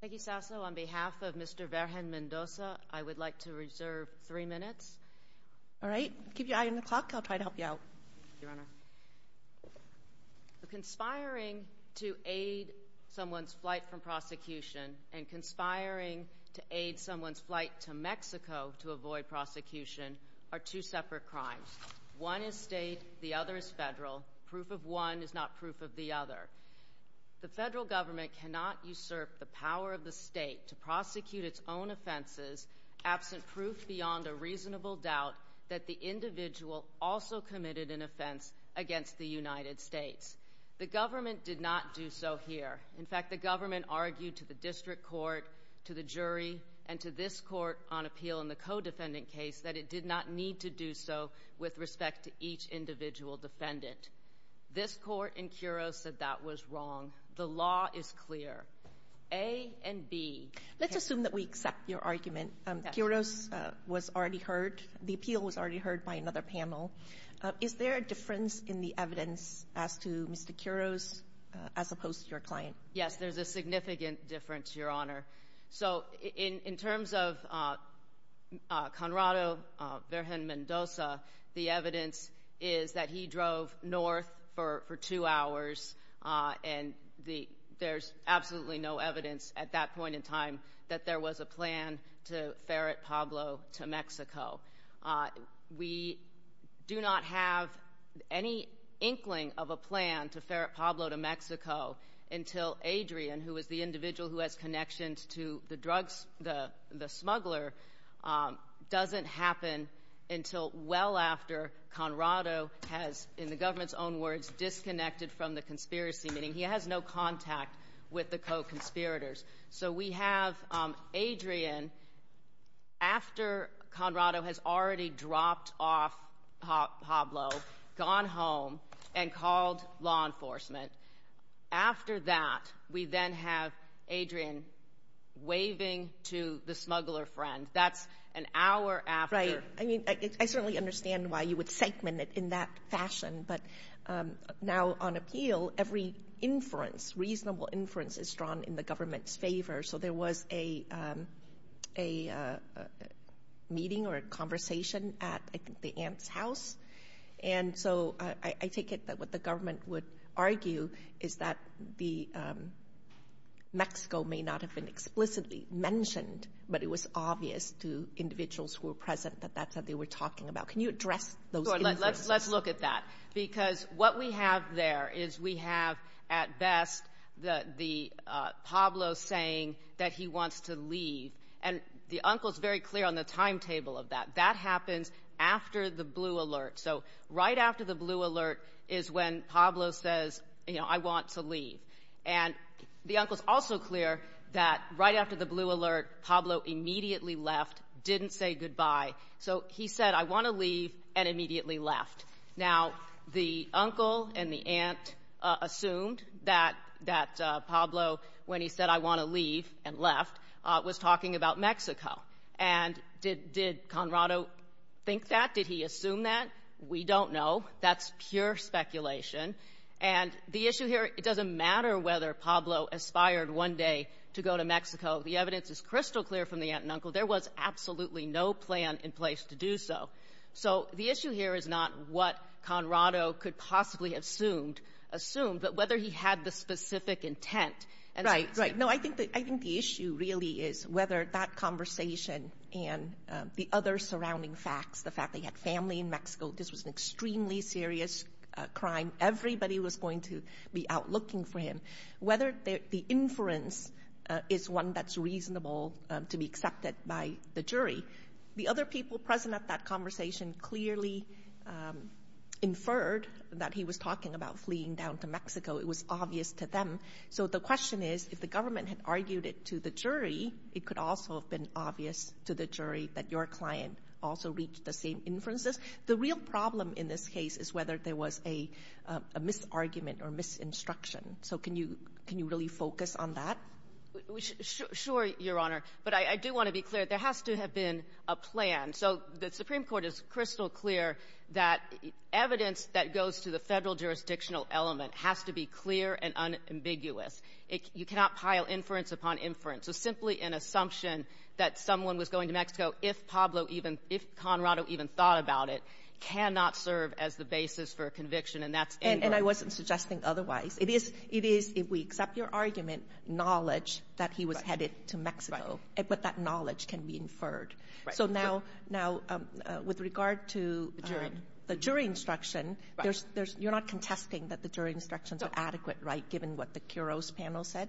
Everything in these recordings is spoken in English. Thank you, Sasso. On behalf of Mr. Virgen-Mendoza, I would like to reserve three minutes. All right. Keep your eye on the clock. I'll try to help you out. Thank you, Your Honor. Conspiring to aid someone's flight from prosecution and conspiring to aid someone's flight to Mexico to avoid prosecution are two separate crimes. One is state, the other is federal. Proof of one is not proof of the other. The federal government cannot usurp the power of the state to prosecute its own offenses absent proof beyond a reasonable doubt that the individual also committed an offense against the United States. The government did not do so here. In fact, the government argued to the district court, to the jury, and to this court on appeal in the co-defendant case that it did not need to do so with respect to each individual defendant. This court in Quiroz said that was wrong. The law is clear, A and B. Let's assume that we accept your argument. Quiroz was already heard. The appeal was already heard by another panel. Is there a difference in the evidence as to Mr. Quiroz as opposed to your client? Yes, there's a significant difference, Your Honor. So in terms of Conrado Vergen-Mendoza, the evidence is that he drove north for two hours, and there's absolutely no evidence at that point in time that there was a plan to ferret Pablo to Mexico. We do not have any inkling of a plan to ferret Pablo to Mexico until Adrian, who is the individual who has connections to the drugs, the smuggler, doesn't happen until well after Conrado has, in the government's own words, disconnected from the conspiracy, meaning he has no contact with the co-conspirators. So we have Adrian after Conrado has already dropped off Pablo, gone home, and called law enforcement. After that, we then have Adrian waving to the smuggler friend. That's an hour after. Right. I mean, I certainly understand why you would segment it in that fashion. But now on appeal, every inference, reasonable inference, is drawn in the government's favor. So there was a meeting or a conversation at, I think, the aunt's house. And so I take it that what the government would argue is that Mexico may not have been explicitly mentioned, but it was obvious to individuals who were present that that's what they were talking about. Can you address those inferences? Let's look at that. Because what we have there is we have, at best, Pablo saying that he wants to leave. And the uncle is very clear on the timetable of that. That happens after the blue alert. So right after the blue alert is when Pablo says, you know, I want to leave. And the uncle is also clear that right after the blue alert, Pablo immediately left, didn't say goodbye. So he said, I want to leave, and immediately left. Now, the uncle and the aunt assumed that Pablo, when he said, I want to leave and left, was talking about Mexico. And did Conrado think that? Did he assume that? We don't know. That's pure speculation. And the issue here, it doesn't matter whether Pablo aspired one day to go to Mexico. The evidence is crystal clear from the aunt and uncle. There was absolutely no plan in place to do so. So the issue here is not what Conrado could possibly have assumed, but whether he had the specific intent. Right, right. No, I think the issue really is whether that conversation and the other surrounding facts, the fact that he had family in Mexico, this was an extremely serious crime. Everybody was going to be out looking for him. Whether the inference is one that's reasonable to be accepted by the jury. The other people present at that conversation clearly inferred that he was talking about fleeing down to Mexico. It was obvious to them. So the question is, if the government had argued it to the jury, it could also have been obvious to the jury that your client also reached the same inferences. The real problem in this case is whether there was a misargument or misinstruction. So can you really focus on that? Sure, Your Honor. But I do want to be clear. There has to have been a plan. So the Supreme Court is crystal clear that evidence that goes to the Federal jurisdictional element has to be clear and unambiguous. You cannot pile inference upon inference. So simply an assumption that someone was going to Mexico, if Pablo even — if Conrado even thought about it, cannot serve as the basis for a conviction. And that's incorrect. And I wasn't suggesting otherwise. It is — it is, if we accept your argument, knowledge that he was headed to Mexico. Right. But that knowledge can be inferred. Right. So now — now, with regard to the jury instruction, there's — you're not contesting that the jury instructions are adequate, right, given what the Kuros panel said?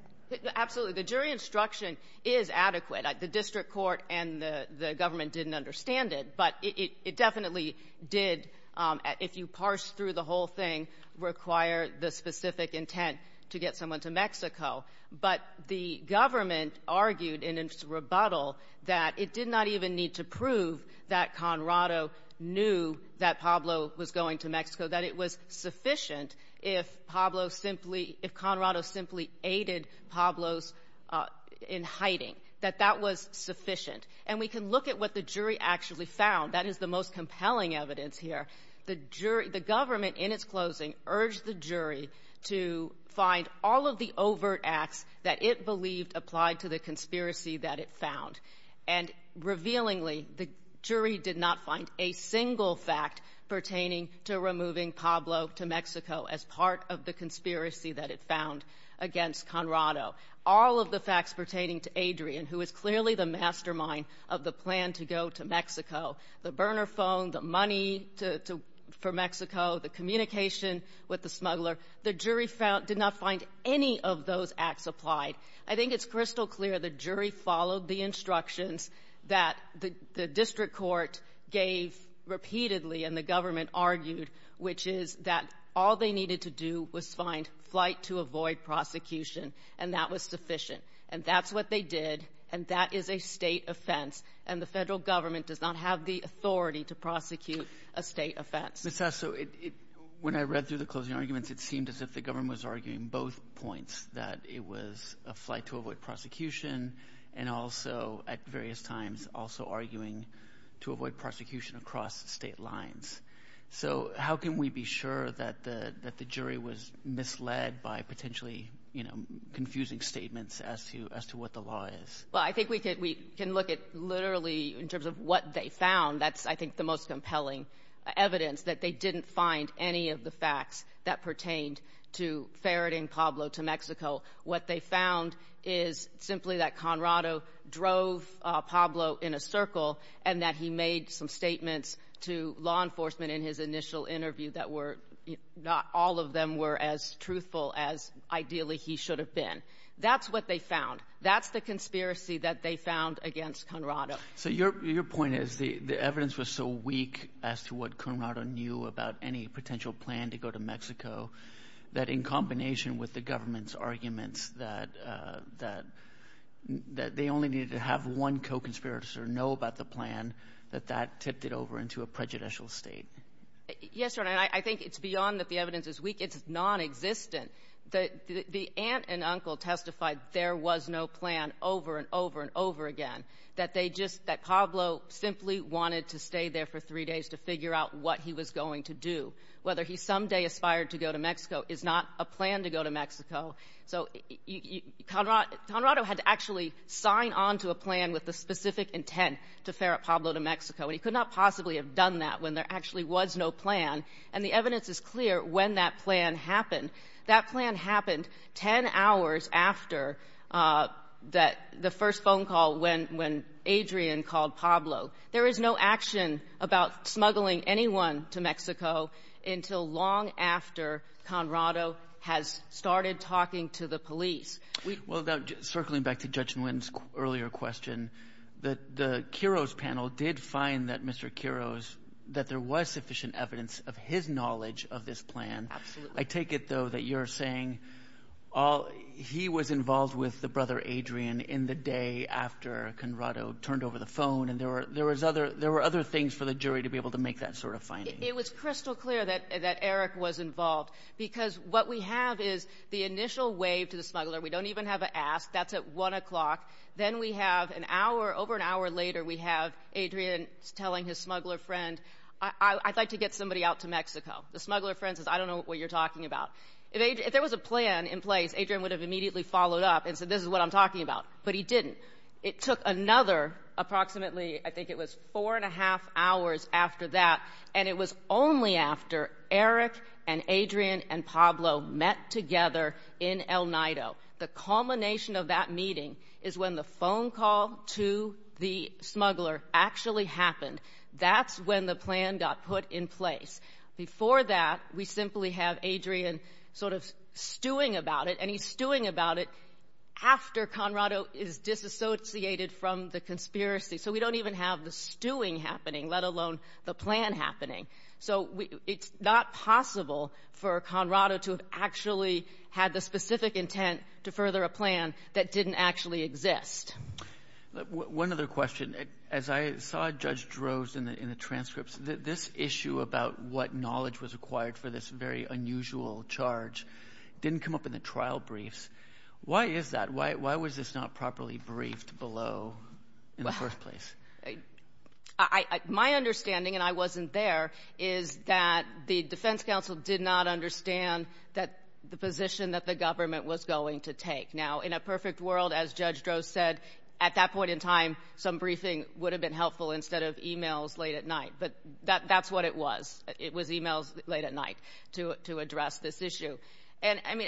Absolutely. The jury instruction is adequate. The district court and the government didn't understand it. But it definitely did, if you parse through the whole thing, require the specific intent to get someone to Mexico. But the government argued in its rebuttal that it did not even need to prove that if Pablo simply — if Conrado simply aided Pablo's — in hiding, that that was sufficient. And we can look at what the jury actually found. That is the most compelling evidence here. The jury — the government, in its closing, urged the jury to find all of the overt acts that it believed applied to the conspiracy that it found. And, revealingly, the jury did not find a single fact pertaining to removing Pablo to Mexico as part of the conspiracy that it found against Conrado. All of the facts pertaining to Adrian, who is clearly the mastermind of the plan to go to Mexico, the burner phone, the money to — for Mexico, the communication with the smuggler, the jury found — did not find any of those acts applied. I think it's crystal clear the jury followed the instructions that the — the district court gave repeatedly, and the government argued, which is that all they needed to do was find flight to avoid prosecution, and that was sufficient. And that's what they did, and that is a State offense. And the Federal government does not have the authority to prosecute a State offense. Mr. Asso, when I read through the closing arguments, it seemed as if the government was arguing both points, that it was a flight to avoid prosecution and also, at various times, also arguing to avoid prosecution across State lines. So how can we be sure that the jury was misled by potentially, you know, confusing statements as to what the law is? Well, I think we can look at literally in terms of what they found. That's, I think, the most compelling evidence, that they didn't find any of the facts that pertained to ferreting Pablo to Mexico. What they found is simply that Conrado drove Pablo in a circle and that he made some statements to law enforcement in his initial interview that were — not all of them were as truthful as ideally he should have been. That's what they found. That's the conspiracy that they found against Conrado. So your point is the evidence was so weak as to what Conrado knew about any potential plan to go to Mexico, that in combination with the government's arguments that they only needed to have one co-conspirator know about the plan, that that tipped it over into a prejudicial State? Yes, Your Honor. I think it's beyond that the evidence is weak. It's nonexistent. The aunt and uncle testified there was no plan over and over and over again, that they just — that Pablo simply wanted to stay there for three days to figure out what he was going to do. Whether he someday aspired to go to Mexico is not a plan to go to Mexico. So Conrado had to actually sign on to a plan with the specific intent to ferret Pablo to Mexico, and he could not possibly have done that when there actually was no plan. And the evidence is clear when that plan happened. That plan happened 10 hours after that — the first phone call when Adrian called Pablo. There is no action about smuggling anyone to Mexico until long after Conrado has started talking to the police. We — Well, now, circling back to Judge Nguyen's earlier question, the — the Quiros panel did find that Mr. Quiros — that there was sufficient evidence of his knowledge of this plan. Absolutely. I take it, though, that you're saying all — he was involved with the brother Adrian in the day after Conrado turned over the phone. And there were — there was other — there were other things for the jury to be able to make that sort of finding. It was crystal clear that Eric was involved, because what we have is the initial wave to the smuggler. We don't even have an ask. That's at 1 o'clock. Then we have an hour — over an hour later, we have Adrian telling his smuggler friend, I'd like to get somebody out to Mexico. The smuggler friend says, I don't know what you're talking about. If there was a plan in place, Adrian would have immediately followed up and said, this is what I'm talking about. But he didn't. It took another approximately — I think it was four and a half hours after that, and it was only after Eric and Adrian and Pablo met together in El Nido. The culmination of that meeting is when the phone call to the smuggler actually happened. That's when the plan got put in place. Before that, we simply have Adrian sort of stewing about it, and he's stewing about it after Conrado is disassociated from the conspiracy. So we don't even have the stewing happening, let alone the plan happening. So it's not possible for Conrado to have actually had the specific intent to further a plan that didn't actually exist. One other question. As I saw Judge Drozd in the transcripts, this issue about what knowledge was acquired for this very unusual charge didn't come up in the trial briefs. Why is that? Why was this not properly briefed below in the first place? My understanding, and I wasn't there, is that the defense counsel did not understand the position that the government was going to take. Now, in a perfect world, as Judge Drozd said, at that point in time, some briefing would have been helpful instead of e-mails late at night. But that's what it was. It was e-mails late at night to address this issue. And, I mean,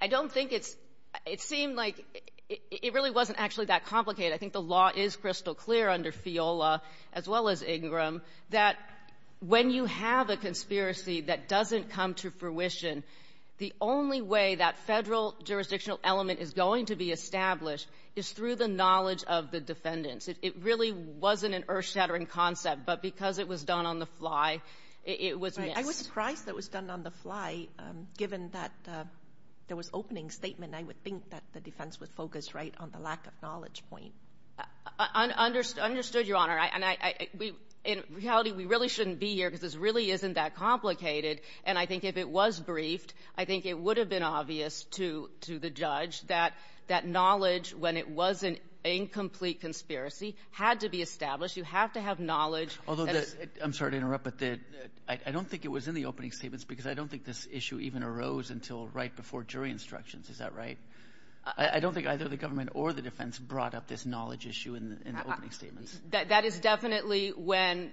I don't think it's — it seemed like it really wasn't actually that complicated. I think the law is crystal clear under FIOLA, as well as Ingram, that when you have a conspiracy that doesn't come to fruition, the only way that Federal jurisdictional element is going to be established is through the knowledge of the defendants. It really wasn't an earth-shattering concept. But because it was done on the fly, it was missed. Right. I was surprised that it was done on the fly, given that there was opening statement. I would think that the defense was focused right on the lack of knowledge point. Understood, Your Honor. And I — in reality, we really shouldn't be here because this really isn't that complicated. And I think if it was briefed, I think it would have been obvious to — to the judge Although the — I'm sorry to interrupt, but the — I don't think it was in the opening statements because I don't think this issue even arose until right before jury instructions. Is that right? I don't think either the government or the defense brought up this knowledge issue in the opening statements. That is definitely when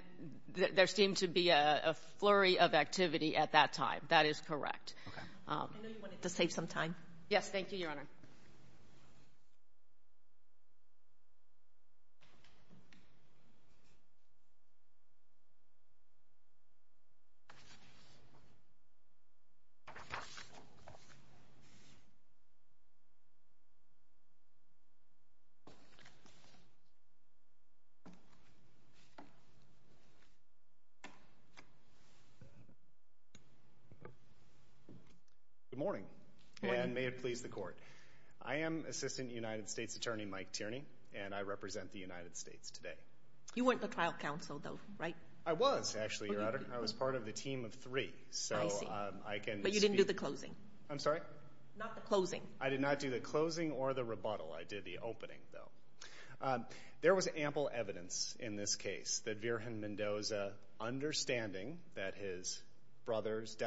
there seemed to be a flurry of activity at that time. That is correct. Okay. I know you wanted to save some time. Yes. Thank you, Your Honor. Thank you. Good morning. Good morning. And may it please the court. I am Assistant United States Attorney Mike Tierney, and I represent the United States today. You weren't the trial counsel, though, right? I was, actually, Your Honor. Oh, you were. I was part of the team of three. I see. So I can speak — But you didn't do the closing. I'm sorry? Not the closing. I did not do the closing or the rebuttal. I did the opening, though. There was ample evidence in this case that Virgen Mendoza, understanding that his brother's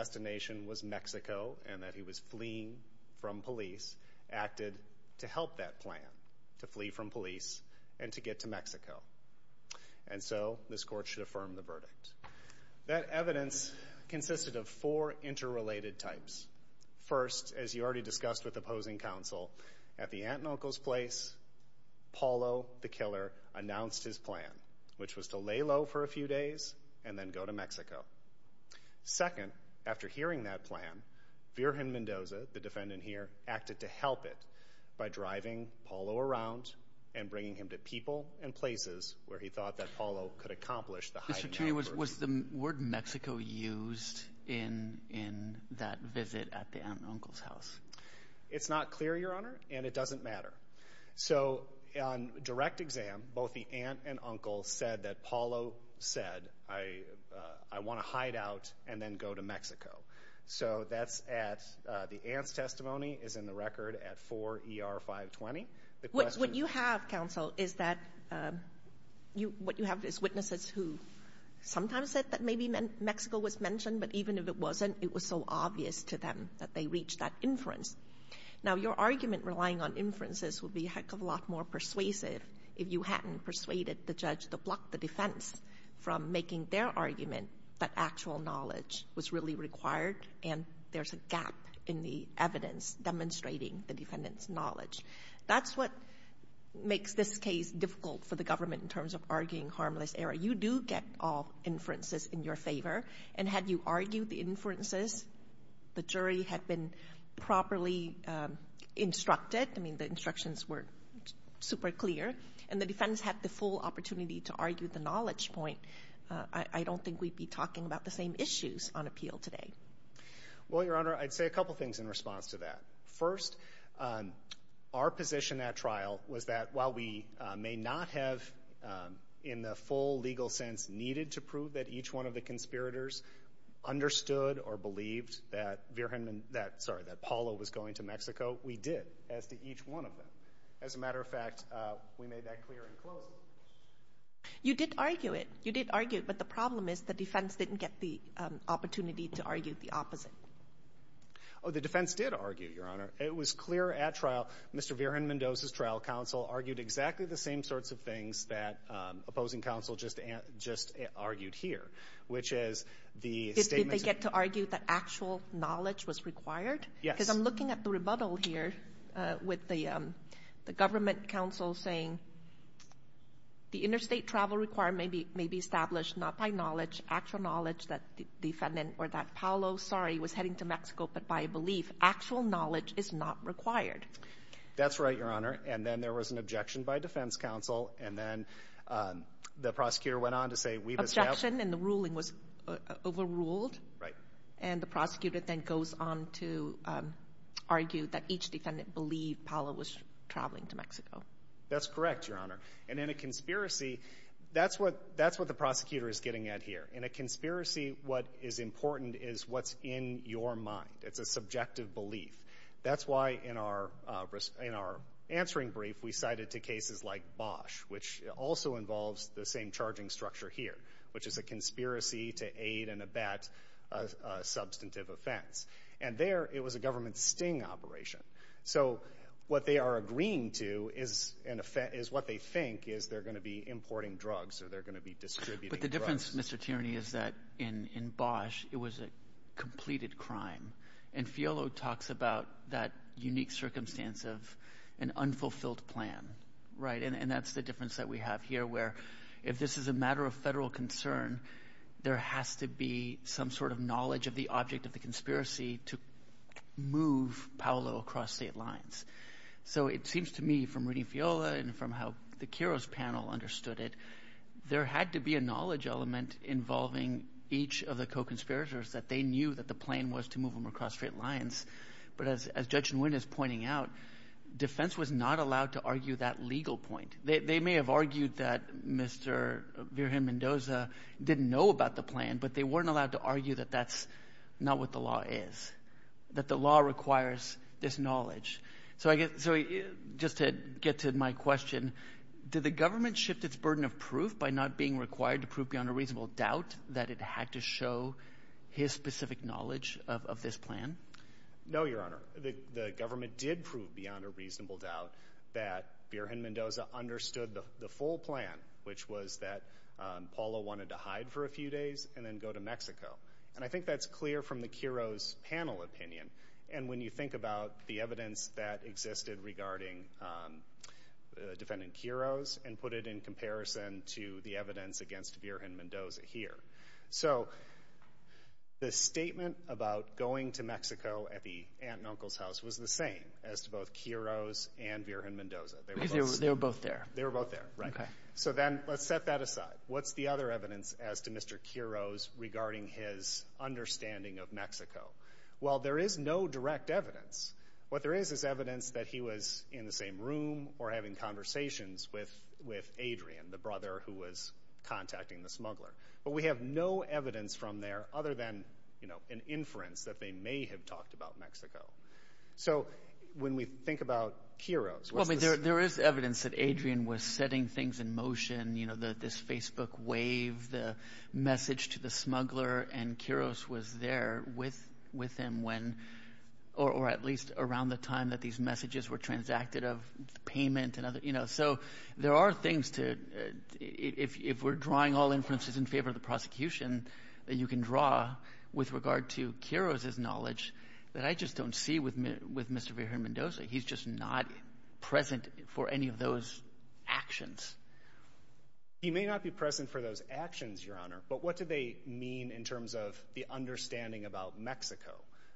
Mexico and that he was fleeing from police, acted to help that plan, to flee from police and to get to Mexico. And so this court should affirm the verdict. That evidence consisted of four interrelated types. First, as you already discussed with opposing counsel, at the aunt and uncle's place, Paulo, the killer, announced his plan, which was to lay low for a few days and then go to Mexico. Second, after hearing that plan, Virgen Mendoza, the defendant here, acted to help it by driving Paulo around and bringing him to people and places where he thought that Paulo could accomplish the heightened numbers. Mr. Turner, was the word Mexico used in that visit at the aunt and uncle's house? It's not clear, Your Honor, and it doesn't matter. So on direct exam, both the aunt and uncle said that Paulo said, I want to hide out and then go to Mexico. So that's at the aunt's testimony is in the record at 4 ER 520. What you have, counsel, is that what you have is witnesses who sometimes said that maybe Mexico was mentioned, but even if it wasn't, it was so obvious to them that they reached that inference. Now, your argument relying on inferences would be a heck of a lot more persuasive if you hadn't persuaded the judge to block the defense from making their argument that actual knowledge was really required and there's a gap in the evidence demonstrating the defendant's knowledge. That's what makes this case difficult for the government in terms of arguing harmless error. You do get all inferences in your favor. And had you argued the inferences, the jury had been properly instructed. I mean, the instructions were super clear and the defense had the full opportunity to argue the knowledge point. I don't think we'd be talking about the same issues on appeal today. Well, Your Honor, I'd say a couple of things in response to that. First, our position at trial was that while we may not have, in the full legal sense, needed to prove that each one of the conspirators understood or believed that Verhindman that, sorry, that Paolo was going to Mexico, we did as to each one of them. As a matter of fact, we made that clear and close. You did argue it. You did argue it, but the problem is the defense didn't get the opportunity to argue the opposite. Oh, the defense did argue, Your Honor. It was clear at trial. Mr. Verhindman does his trial counsel argued exactly the same sorts of things that opposing counsel just argued here, which is the statement. Did they get to argue that actual knowledge was required? Yes. Because I'm looking at the rebuttal here with the government counsel saying the interstate travel requirement may be established not by knowledge, actual knowledge that the defendant or that Paolo, sorry, was heading to Mexico, but by belief. Actual knowledge is not required. That's right, Your Honor. And then there was an objection by defense counsel, and then the prosecutor went on to say we've established. Objection, and the ruling was overruled. Right. And the prosecutor then goes on to argue that each defendant believed Paolo was traveling to Mexico. That's correct, Your Honor. And in a conspiracy, that's what the prosecutor is getting at here. In a conspiracy, what is important is what's in your mind. It's a subjective belief. That's why in our answering brief, we cited to cases like Bosch, which also involves the same charging structure here, which is a conspiracy to aid and abet a substantive offense. And there, it was a government sting operation. So what they are agreeing to is what they think is they're going to be importing drugs or they're going to be distributing drugs. But the difference, Mr. Tierney, is that in Bosch, it was a completed crime. And Fiolo talks about that unique circumstance of an unfulfilled plan. And that's the difference that we have here where if this is a matter of federal concern, there has to be some sort of knowledge of the object of the conspiracy to move Paolo across state lines. So it seems to me from reading Fiolo and from how the Kiros panel understood it, there had to be a knowledge element involving each of the co-conspirators that they knew that the plan was to move him across state lines. But as Judge Nguyen is pointing out, defense was not allowed to argue that legal point. They may have argued that Mr. Virgen Mendoza didn't know about the plan, but they weren't allowed to argue that that's not what the law is, that the law requires this knowledge. So just to get to my question, did the government shift its burden of proof by not being required to prove beyond a reasonable doubt that it had to show his specific knowledge of this plan? No, Your Honor. The government did prove beyond a reasonable doubt that Virgen Mendoza understood the full plan, which was that Paolo wanted to hide for a few days and then go to Mexico. And I think that's clear from the Kiros panel opinion. And when you think about the evidence that existed regarding Defendant Kiros and put it in comparison to the evidence against Virgen Mendoza here. So the statement about going to Mexico at the aunt and uncle's house was the same as to both Kiros and Virgen Mendoza. They were both there. They were both there, right. Okay. So then let's set that aside. What's the other evidence as to Mr. Kiros regarding his understanding of Mexico? Well, there is no direct evidence. What there is is evidence that he was in the same room or having conversations with Adrian, the brother who was contacting the smuggler. But we have no evidence from there other than an inference that they may have talked about Mexico. So when we think about Kiros. Well, there is evidence that Adrian was setting things in motion. You know, this Facebook wave, the message to the smuggler, and Kiros was there with him when or at least around the time that these messages were transacted of payment and other, you know. So there are things to, if we're drawing all inferences in favor of the prosecution, that you can draw with regard to Kiros' knowledge that I just don't see with Mr. Virgen Mendoza. He's just not present for any of those actions. He may not be present for those actions, Your Honor, but what do they mean in terms of the understanding about Mexico?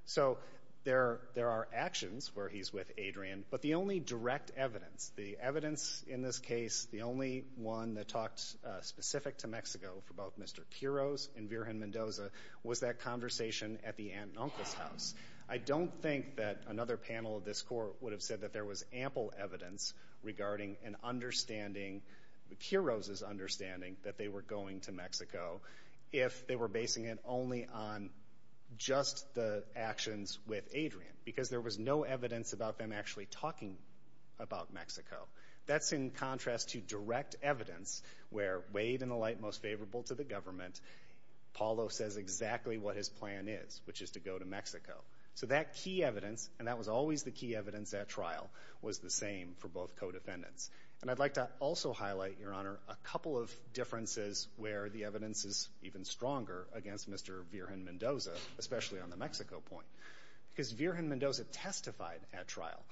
So there are actions where he's with Adrian, but the only direct evidence, the evidence in this case, the only one that talked specific to Mexico for both Mr. Kiros and Virgen Mendoza was that conversation at the aunt and uncle's house. I don't think that another panel of this Court would have said that there was ample evidence regarding an understanding, Kiros' understanding, that they were going to Mexico if they were basing it only on just the actions with Adrian because there was no evidence about them actually talking about Mexico. That's in contrast to direct evidence where, weighed in the light most favorable to the government, Paulo says exactly what his plan is, which is to go to Mexico. So that key evidence, and that was always the key evidence at trial, was the same for both co-defendants. And I'd like to also highlight, Your Honor, a couple of differences where the evidence is even stronger against Mr. Virgen Mendoza, especially on the Mexico point, because Virgen Mendoza testified at trial,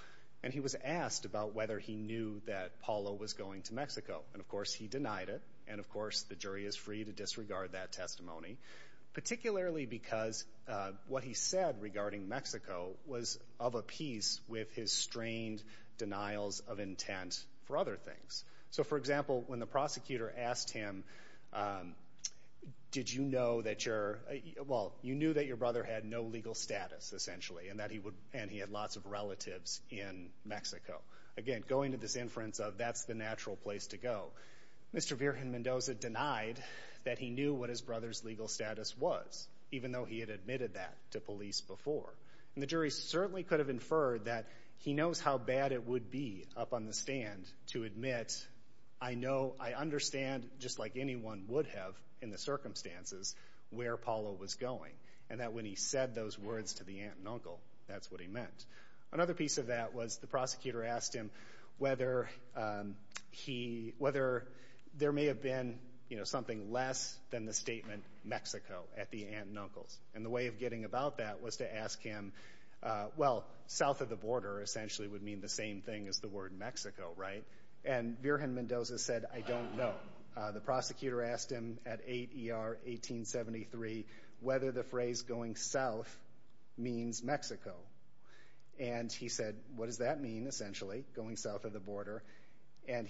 and he was asked about whether he knew that Paulo was going to Mexico. And, of course, he denied it. And, of course, the jury is free to disregard that testimony, particularly because what he said regarding Mexico was of a piece with his strained denials of intent for other things. So, for example, when the prosecutor asked him, did you know that you're, well, you knew that your brother had no legal status, essentially, and he had lots of relatives in Mexico. Again, going to this inference of that's the natural place to go. Mr. Virgen Mendoza denied that he knew what his brother's legal status was, even though he had admitted that to police before. And the jury certainly could have inferred that he knows how bad it would be up on the stand to admit, I know, I understand, just like anyone would have in the circumstances, where Paulo was going. And that when he said those words to the aunt and uncle, that's what he meant. Another piece of that was the prosecutor asked him whether there may have been, you know, something less than the statement Mexico at the aunt and uncle's. And the way of getting about that was to ask him, well, south of the border essentially would mean the same thing as the word Mexico, right? And Virgen Mendoza said, I don't know. The prosecutor asked him at 8 ER 1873 whether the phrase going south means Mexico. And he said, what does that mean, essentially, going south of the border? And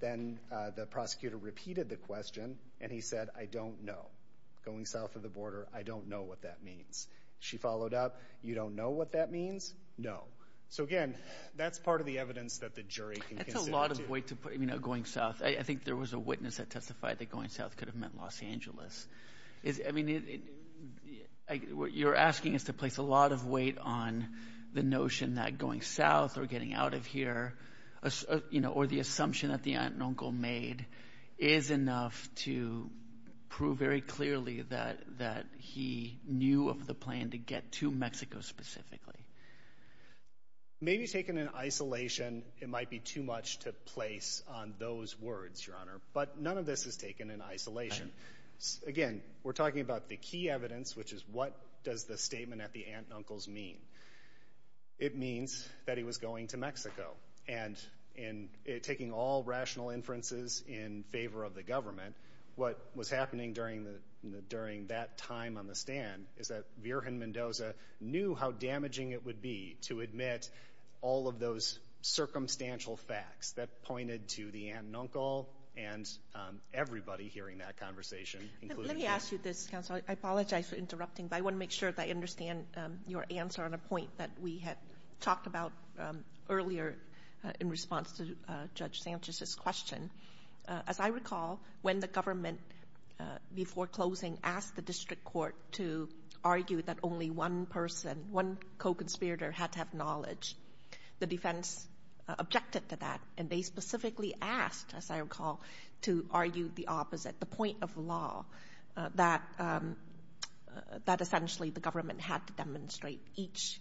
then the prosecutor repeated the question, and he said, I don't know. Going south of the border, I don't know what that means. She followed up, you don't know what that means? No. So, again, that's part of the evidence that the jury can consider. I think there was a witness that testified that going south could have meant Los Angeles. I mean, what you're asking is to place a lot of weight on the notion that going south or getting out of here, you know, or the assumption that the aunt and uncle made is enough to prove very clearly that he knew of the plan to get to Mexico specifically. Maybe taken in isolation, it might be too much to place on those words, Your Honor. But none of this is taken in isolation. Again, we're talking about the key evidence, which is what does the statement at the aunt and uncle's mean? It means that he was going to Mexico. And in taking all rational inferences in favor of the government, what was happening during that time on the stand is that Virgen Mendoza knew how damaging it would be to admit all of those circumstantial facts that pointed to the aunt and uncle and everybody hearing that conversation. Let me ask you this, counsel. I apologize for interrupting, but I want to make sure that I understand your answer on a point that we had talked about earlier in response to Judge Sanchez's question. As I recall, when the government, before closing, asked the district court to argue that only one person, one co-conspirator, had to have knowledge, the defense objected to that. And they specifically asked, as I recall, to argue the opposite, the point of law, that essentially the government had to demonstrate each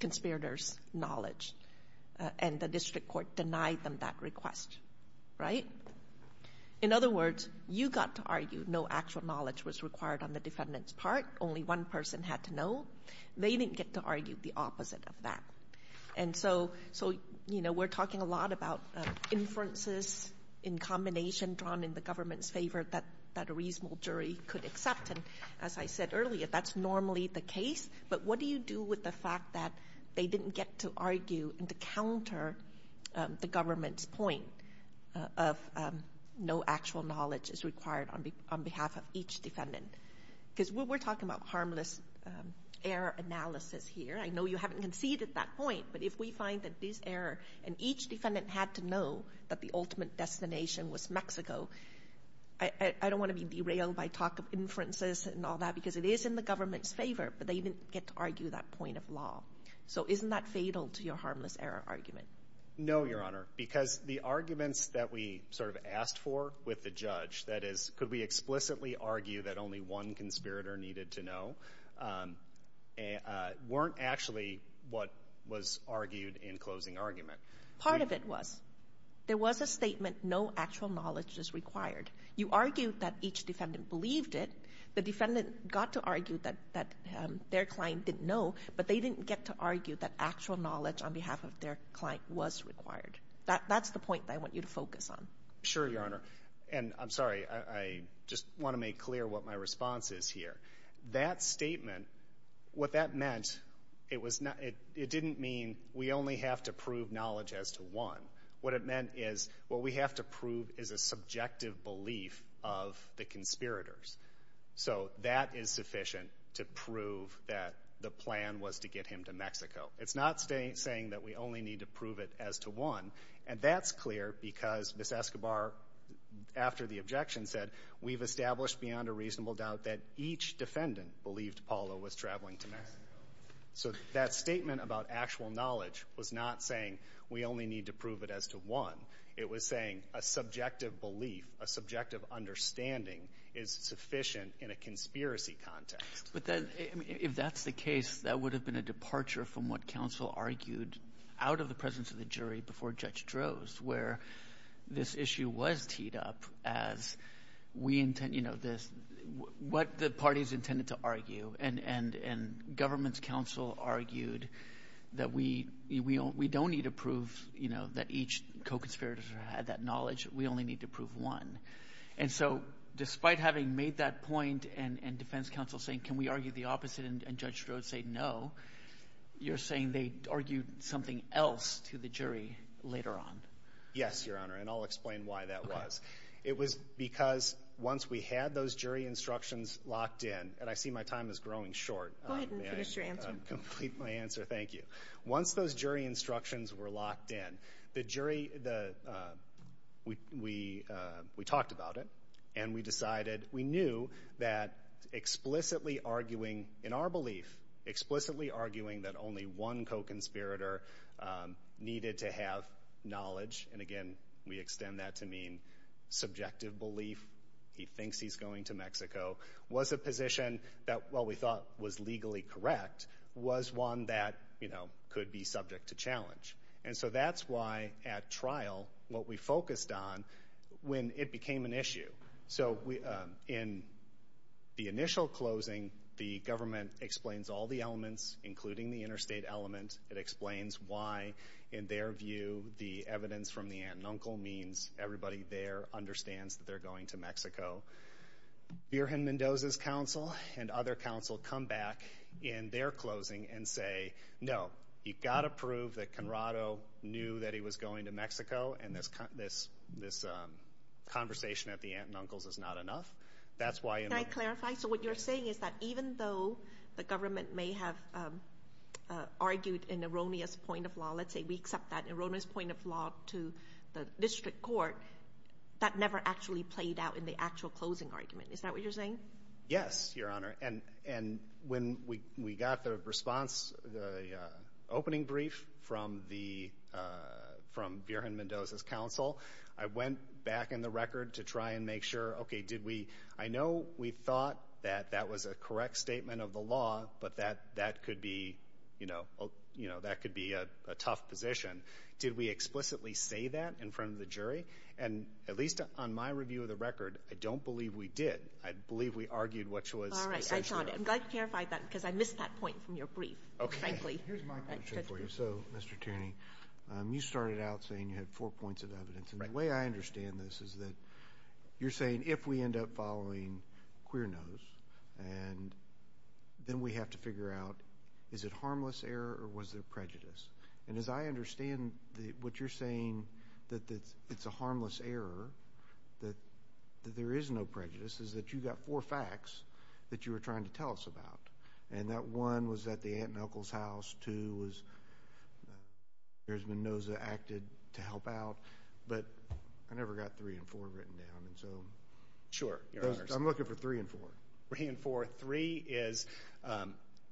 conspirator's knowledge. And the district court denied them that request. Right? In other words, you got to argue no actual knowledge was required on the defendant's part, only one person had to know. They didn't get to argue the opposite of that. And so, you know, we're talking a lot about inferences in combination drawn in the government's favor that a reasonable jury could accept. And as I said earlier, that's normally the case. But what do you do with the fact that they didn't get to argue and to counter the government's point of no actual knowledge is required on behalf of each defendant? Because we're talking about harmless error analysis here. I know you haven't conceded that point, but if we find that this error and each defendant had to know that the ultimate destination was Mexico, I don't want to be derailed by talk of inferences and all that, because it is in the government's favor, but they didn't get to argue that point of law. So isn't that fatal to your harmless error argument? No, Your Honor, because the arguments that we sort of asked for with the judge, that is, could we explicitly argue that only one conspirator needed to know, weren't actually what was argued in closing argument. Part of it was there was a statement no actual knowledge is required. You argued that each defendant believed it. The defendant got to argue that their client didn't know, but they didn't get to argue that actual knowledge on behalf of their client was required. That's the point that I want you to focus on. Sure, Your Honor. And I'm sorry, I just want to make clear what my response is here. That statement, what that meant, it didn't mean we only have to prove knowledge as to one. What it meant is what we have to prove is a subjective belief of the conspirators. So that is sufficient to prove that the plan was to get him to Mexico. It's not saying that we only need to prove it as to one, and that's clear because Ms. Escobar, after the objection, said, we've established beyond a reasonable doubt that each defendant believed Paolo was traveling to Mexico. So that statement about actual knowledge was not saying we only need to prove it as to one. It was saying a subjective belief, a subjective understanding is sufficient in a conspiracy context. But then if that's the case, that would have been a departure from what counsel argued out of the presence of the jury before Judge Droz, where this issue was teed up as we intend, you know, what the parties intended to argue. And government's counsel argued that we don't need to prove, you know, that each co-conspirator had that knowledge, we only need to prove one. And so despite having made that point and defense counsel saying can we argue the opposite and Judge Droz say no, you're saying they argued something else to the jury later on. Yes, Your Honor, and I'll explain why that was. It was because once we had those jury instructions locked in, and I see my time is growing short. Go ahead and finish your answer. May I complete my answer? Thank you. Once those jury instructions were locked in, the jury, we talked about it, and we decided, we knew that explicitly arguing in our belief, explicitly arguing that only one co-conspirator needed to have knowledge, and again, we extend that to mean subjective belief, he thinks he's going to Mexico, was a position that while we thought was legally correct, was one that, you know, could be subject to challenge. And so that's why at trial what we focused on when it became an issue. So in the initial closing, the government explains all the elements, including the interstate element. It explains why, in their view, the evidence from the aunt and uncle means everybody there understands that they're going to Mexico. So Burhan Mendoza's counsel and other counsel come back in their closing and say, no, you've got to prove that Conrado knew that he was going to Mexico, and this conversation at the aunt and uncle's is not enough. Can I clarify? So what you're saying is that even though the government may have argued an erroneous point of law, let's say we accept that erroneous point of law to the district court, that never actually played out in the actual closing argument. Is that what you're saying? Yes, Your Honor. And when we got the response, the opening brief from Burhan Mendoza's counsel, I went back in the record to try and make sure, okay, did we ‑‑ I know we thought that that was a correct statement of the law, but that could be, you know, that could be a tough position. Did we explicitly say that in front of the jury? And at least on my review of the record, I don't believe we did. I believe we argued what was necessary. All right. I'm glad you clarified that because I missed that point from your brief, frankly. Okay. Here's my question for you. So, Mr. Tierney, you started out saying you had four points of evidence. Right. And the way I understand this is that you're saying if we end up following queer nose and then we have to figure out is it harmless error or was there prejudice? And as I understand what you're saying, that it's a harmless error, that there is no prejudice, is that you got four facts that you were trying to tell us about. And that one was at the aunt and uncle's house. Two was Burhan Mendoza acted to help out. But I never got three and four written down. And so I'm looking for three and four. Three and four. Three is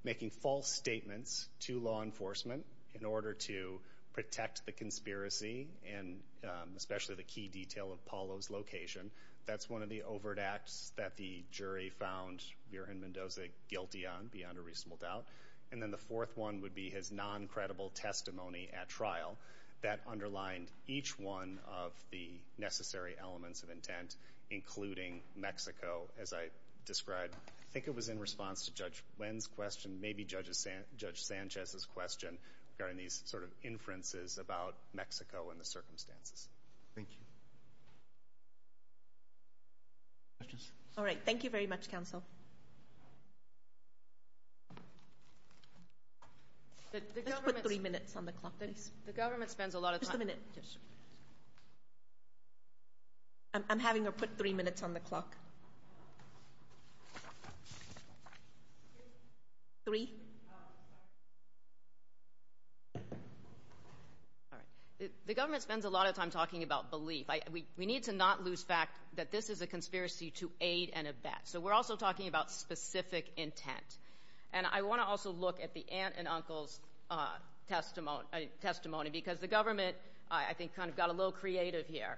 making false statements to law enforcement in order to protect the conspiracy and especially the key detail of Paulo's location. That's one of the overt acts that the jury found Burhan Mendoza guilty on, beyond a reasonable doubt. And then the fourth one would be his non-credible testimony at trial that underlined each one of the necessary elements of intent, including Mexico, as I described. I think it was in response to Judge Nguyen's question, maybe Judge Sanchez's question, regarding these sort of inferences about Mexico and the circumstances. Thank you. Questions? All right. Thank you very much, counsel. Let's put three minutes on the clock, please. The government spends a lot of time. Just a minute. Just a minute. I'm having her put three minutes on the clock. Three. All right. The government spends a lot of time talking about belief. We need to not lose fact that this is a conspiracy to aid and abet. So we're also talking about specific intent. And I want to also look at the aunt and uncle's testimony, because the government, I think, kind of got a little creative here.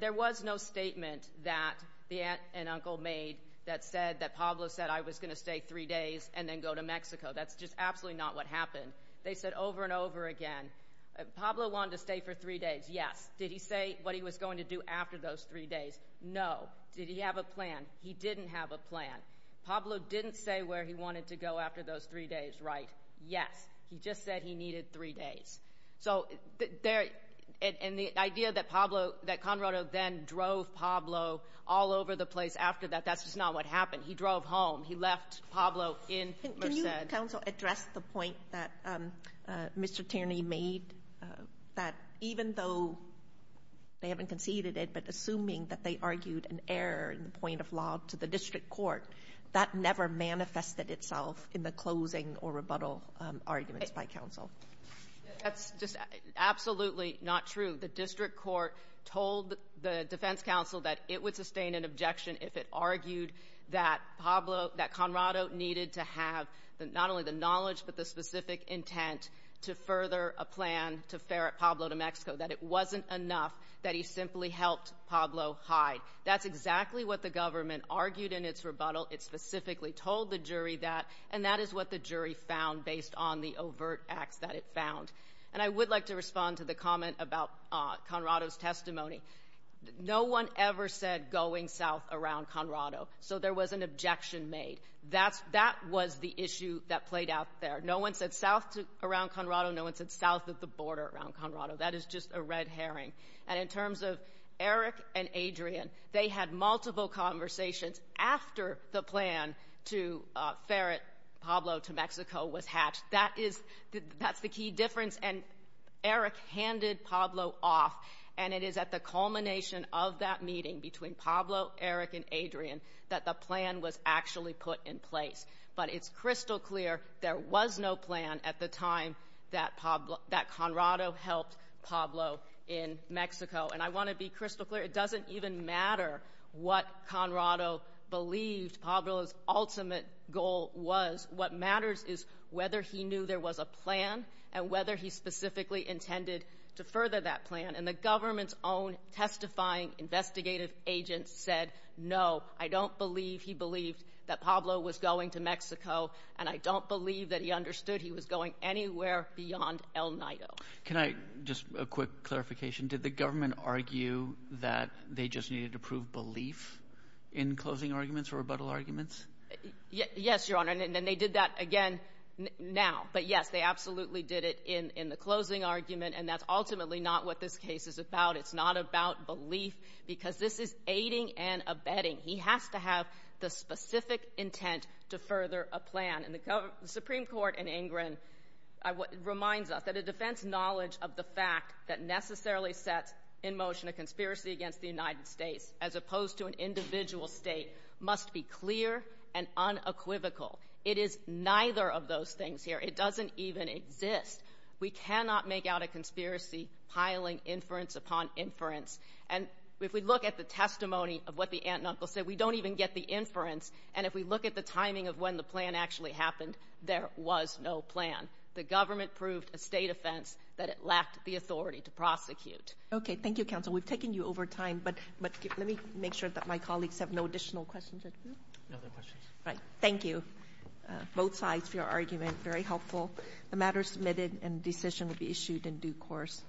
There was no statement that the aunt and uncle made that said that Pablo said, I was going to stay three days and then go to Mexico. That's just absolutely not what happened. They said over and over again, Pablo wanted to stay for three days, yes. Did he say what he was going to do after those three days? No. Did he have a plan? He didn't have a plan. Pablo didn't say where he wanted to go after those three days, right. Yes. He just said he needed three days. So the idea that Conrado then drove Pablo all over the place after that, that's just not what happened. He drove home. He left Pablo in Merced. Can you, counsel, address the point that Mr. Tierney made, that even though they haven't conceded it, assuming that they argued an error in the point of law to the district court, that never manifested itself in the closing or rebuttal arguments by counsel? That's just absolutely not true. The district court told the defense counsel that it would sustain an objection if it argued that Pablo — that Conrado needed to have not only the knowledge but the specific intent to further a plan to ferret Pablo to Mexico, that it wasn't enough, that he simply helped Pablo hide. That's exactly what the government argued in its rebuttal. It specifically told the jury that, and that is what the jury found based on the overt acts that it found. And I would like to respond to the comment about Conrado's testimony. No one ever said going south around Conrado. So there was an objection made. That was the issue that played out there. No one said south around Conrado. No one said south of the border around Conrado. That is just a red herring. And in terms of Eric and Adrian, they had multiple conversations after the plan to ferret Pablo to Mexico was hatched. That's the key difference, and Eric handed Pablo off, and it is at the culmination of that meeting between Pablo, Eric, and Adrian that the plan was actually put in place. But it's crystal clear there was no plan at the time that Conrado helped Pablo in Mexico. And I want to be crystal clear, it doesn't even matter what Conrado believed Pablo's ultimate goal was. What matters is whether he knew there was a plan and whether he specifically intended to further that plan. And the government's own testifying investigative agent said, No, I don't believe he believed that Pablo was going to Mexico, and I don't believe that he understood he was going anywhere beyond El Nido. Can I just a quick clarification? Did the government argue that they just needed to prove belief in closing arguments or rebuttal arguments? Yes, Your Honor, and they did that again now. But, yes, they absolutely did it in the closing argument, and that's ultimately not what this case is about. It's not about belief because this is aiding and abetting. He has to have the specific intent to further a plan. And the Supreme Court in Ingram reminds us that a defense knowledge of the fact that necessarily sets in motion a conspiracy against the United States as opposed to an individual state must be clear and unequivocal. It is neither of those things here. It doesn't even exist. We cannot make out a conspiracy piling inference upon inference. And if we look at the testimony of what the aunt and uncle said, we don't even get the inference. And if we look at the timing of when the plan actually happened, there was no plan. The government proved a State offense that it lacked the authority to prosecute. Okay. Thank you, counsel. We've taken you over time, but let me make sure that my colleagues have no additional questions. Right. Thank you. Both sides for your argument. Very helpful. The matter is submitted and the decision will be issued in due course.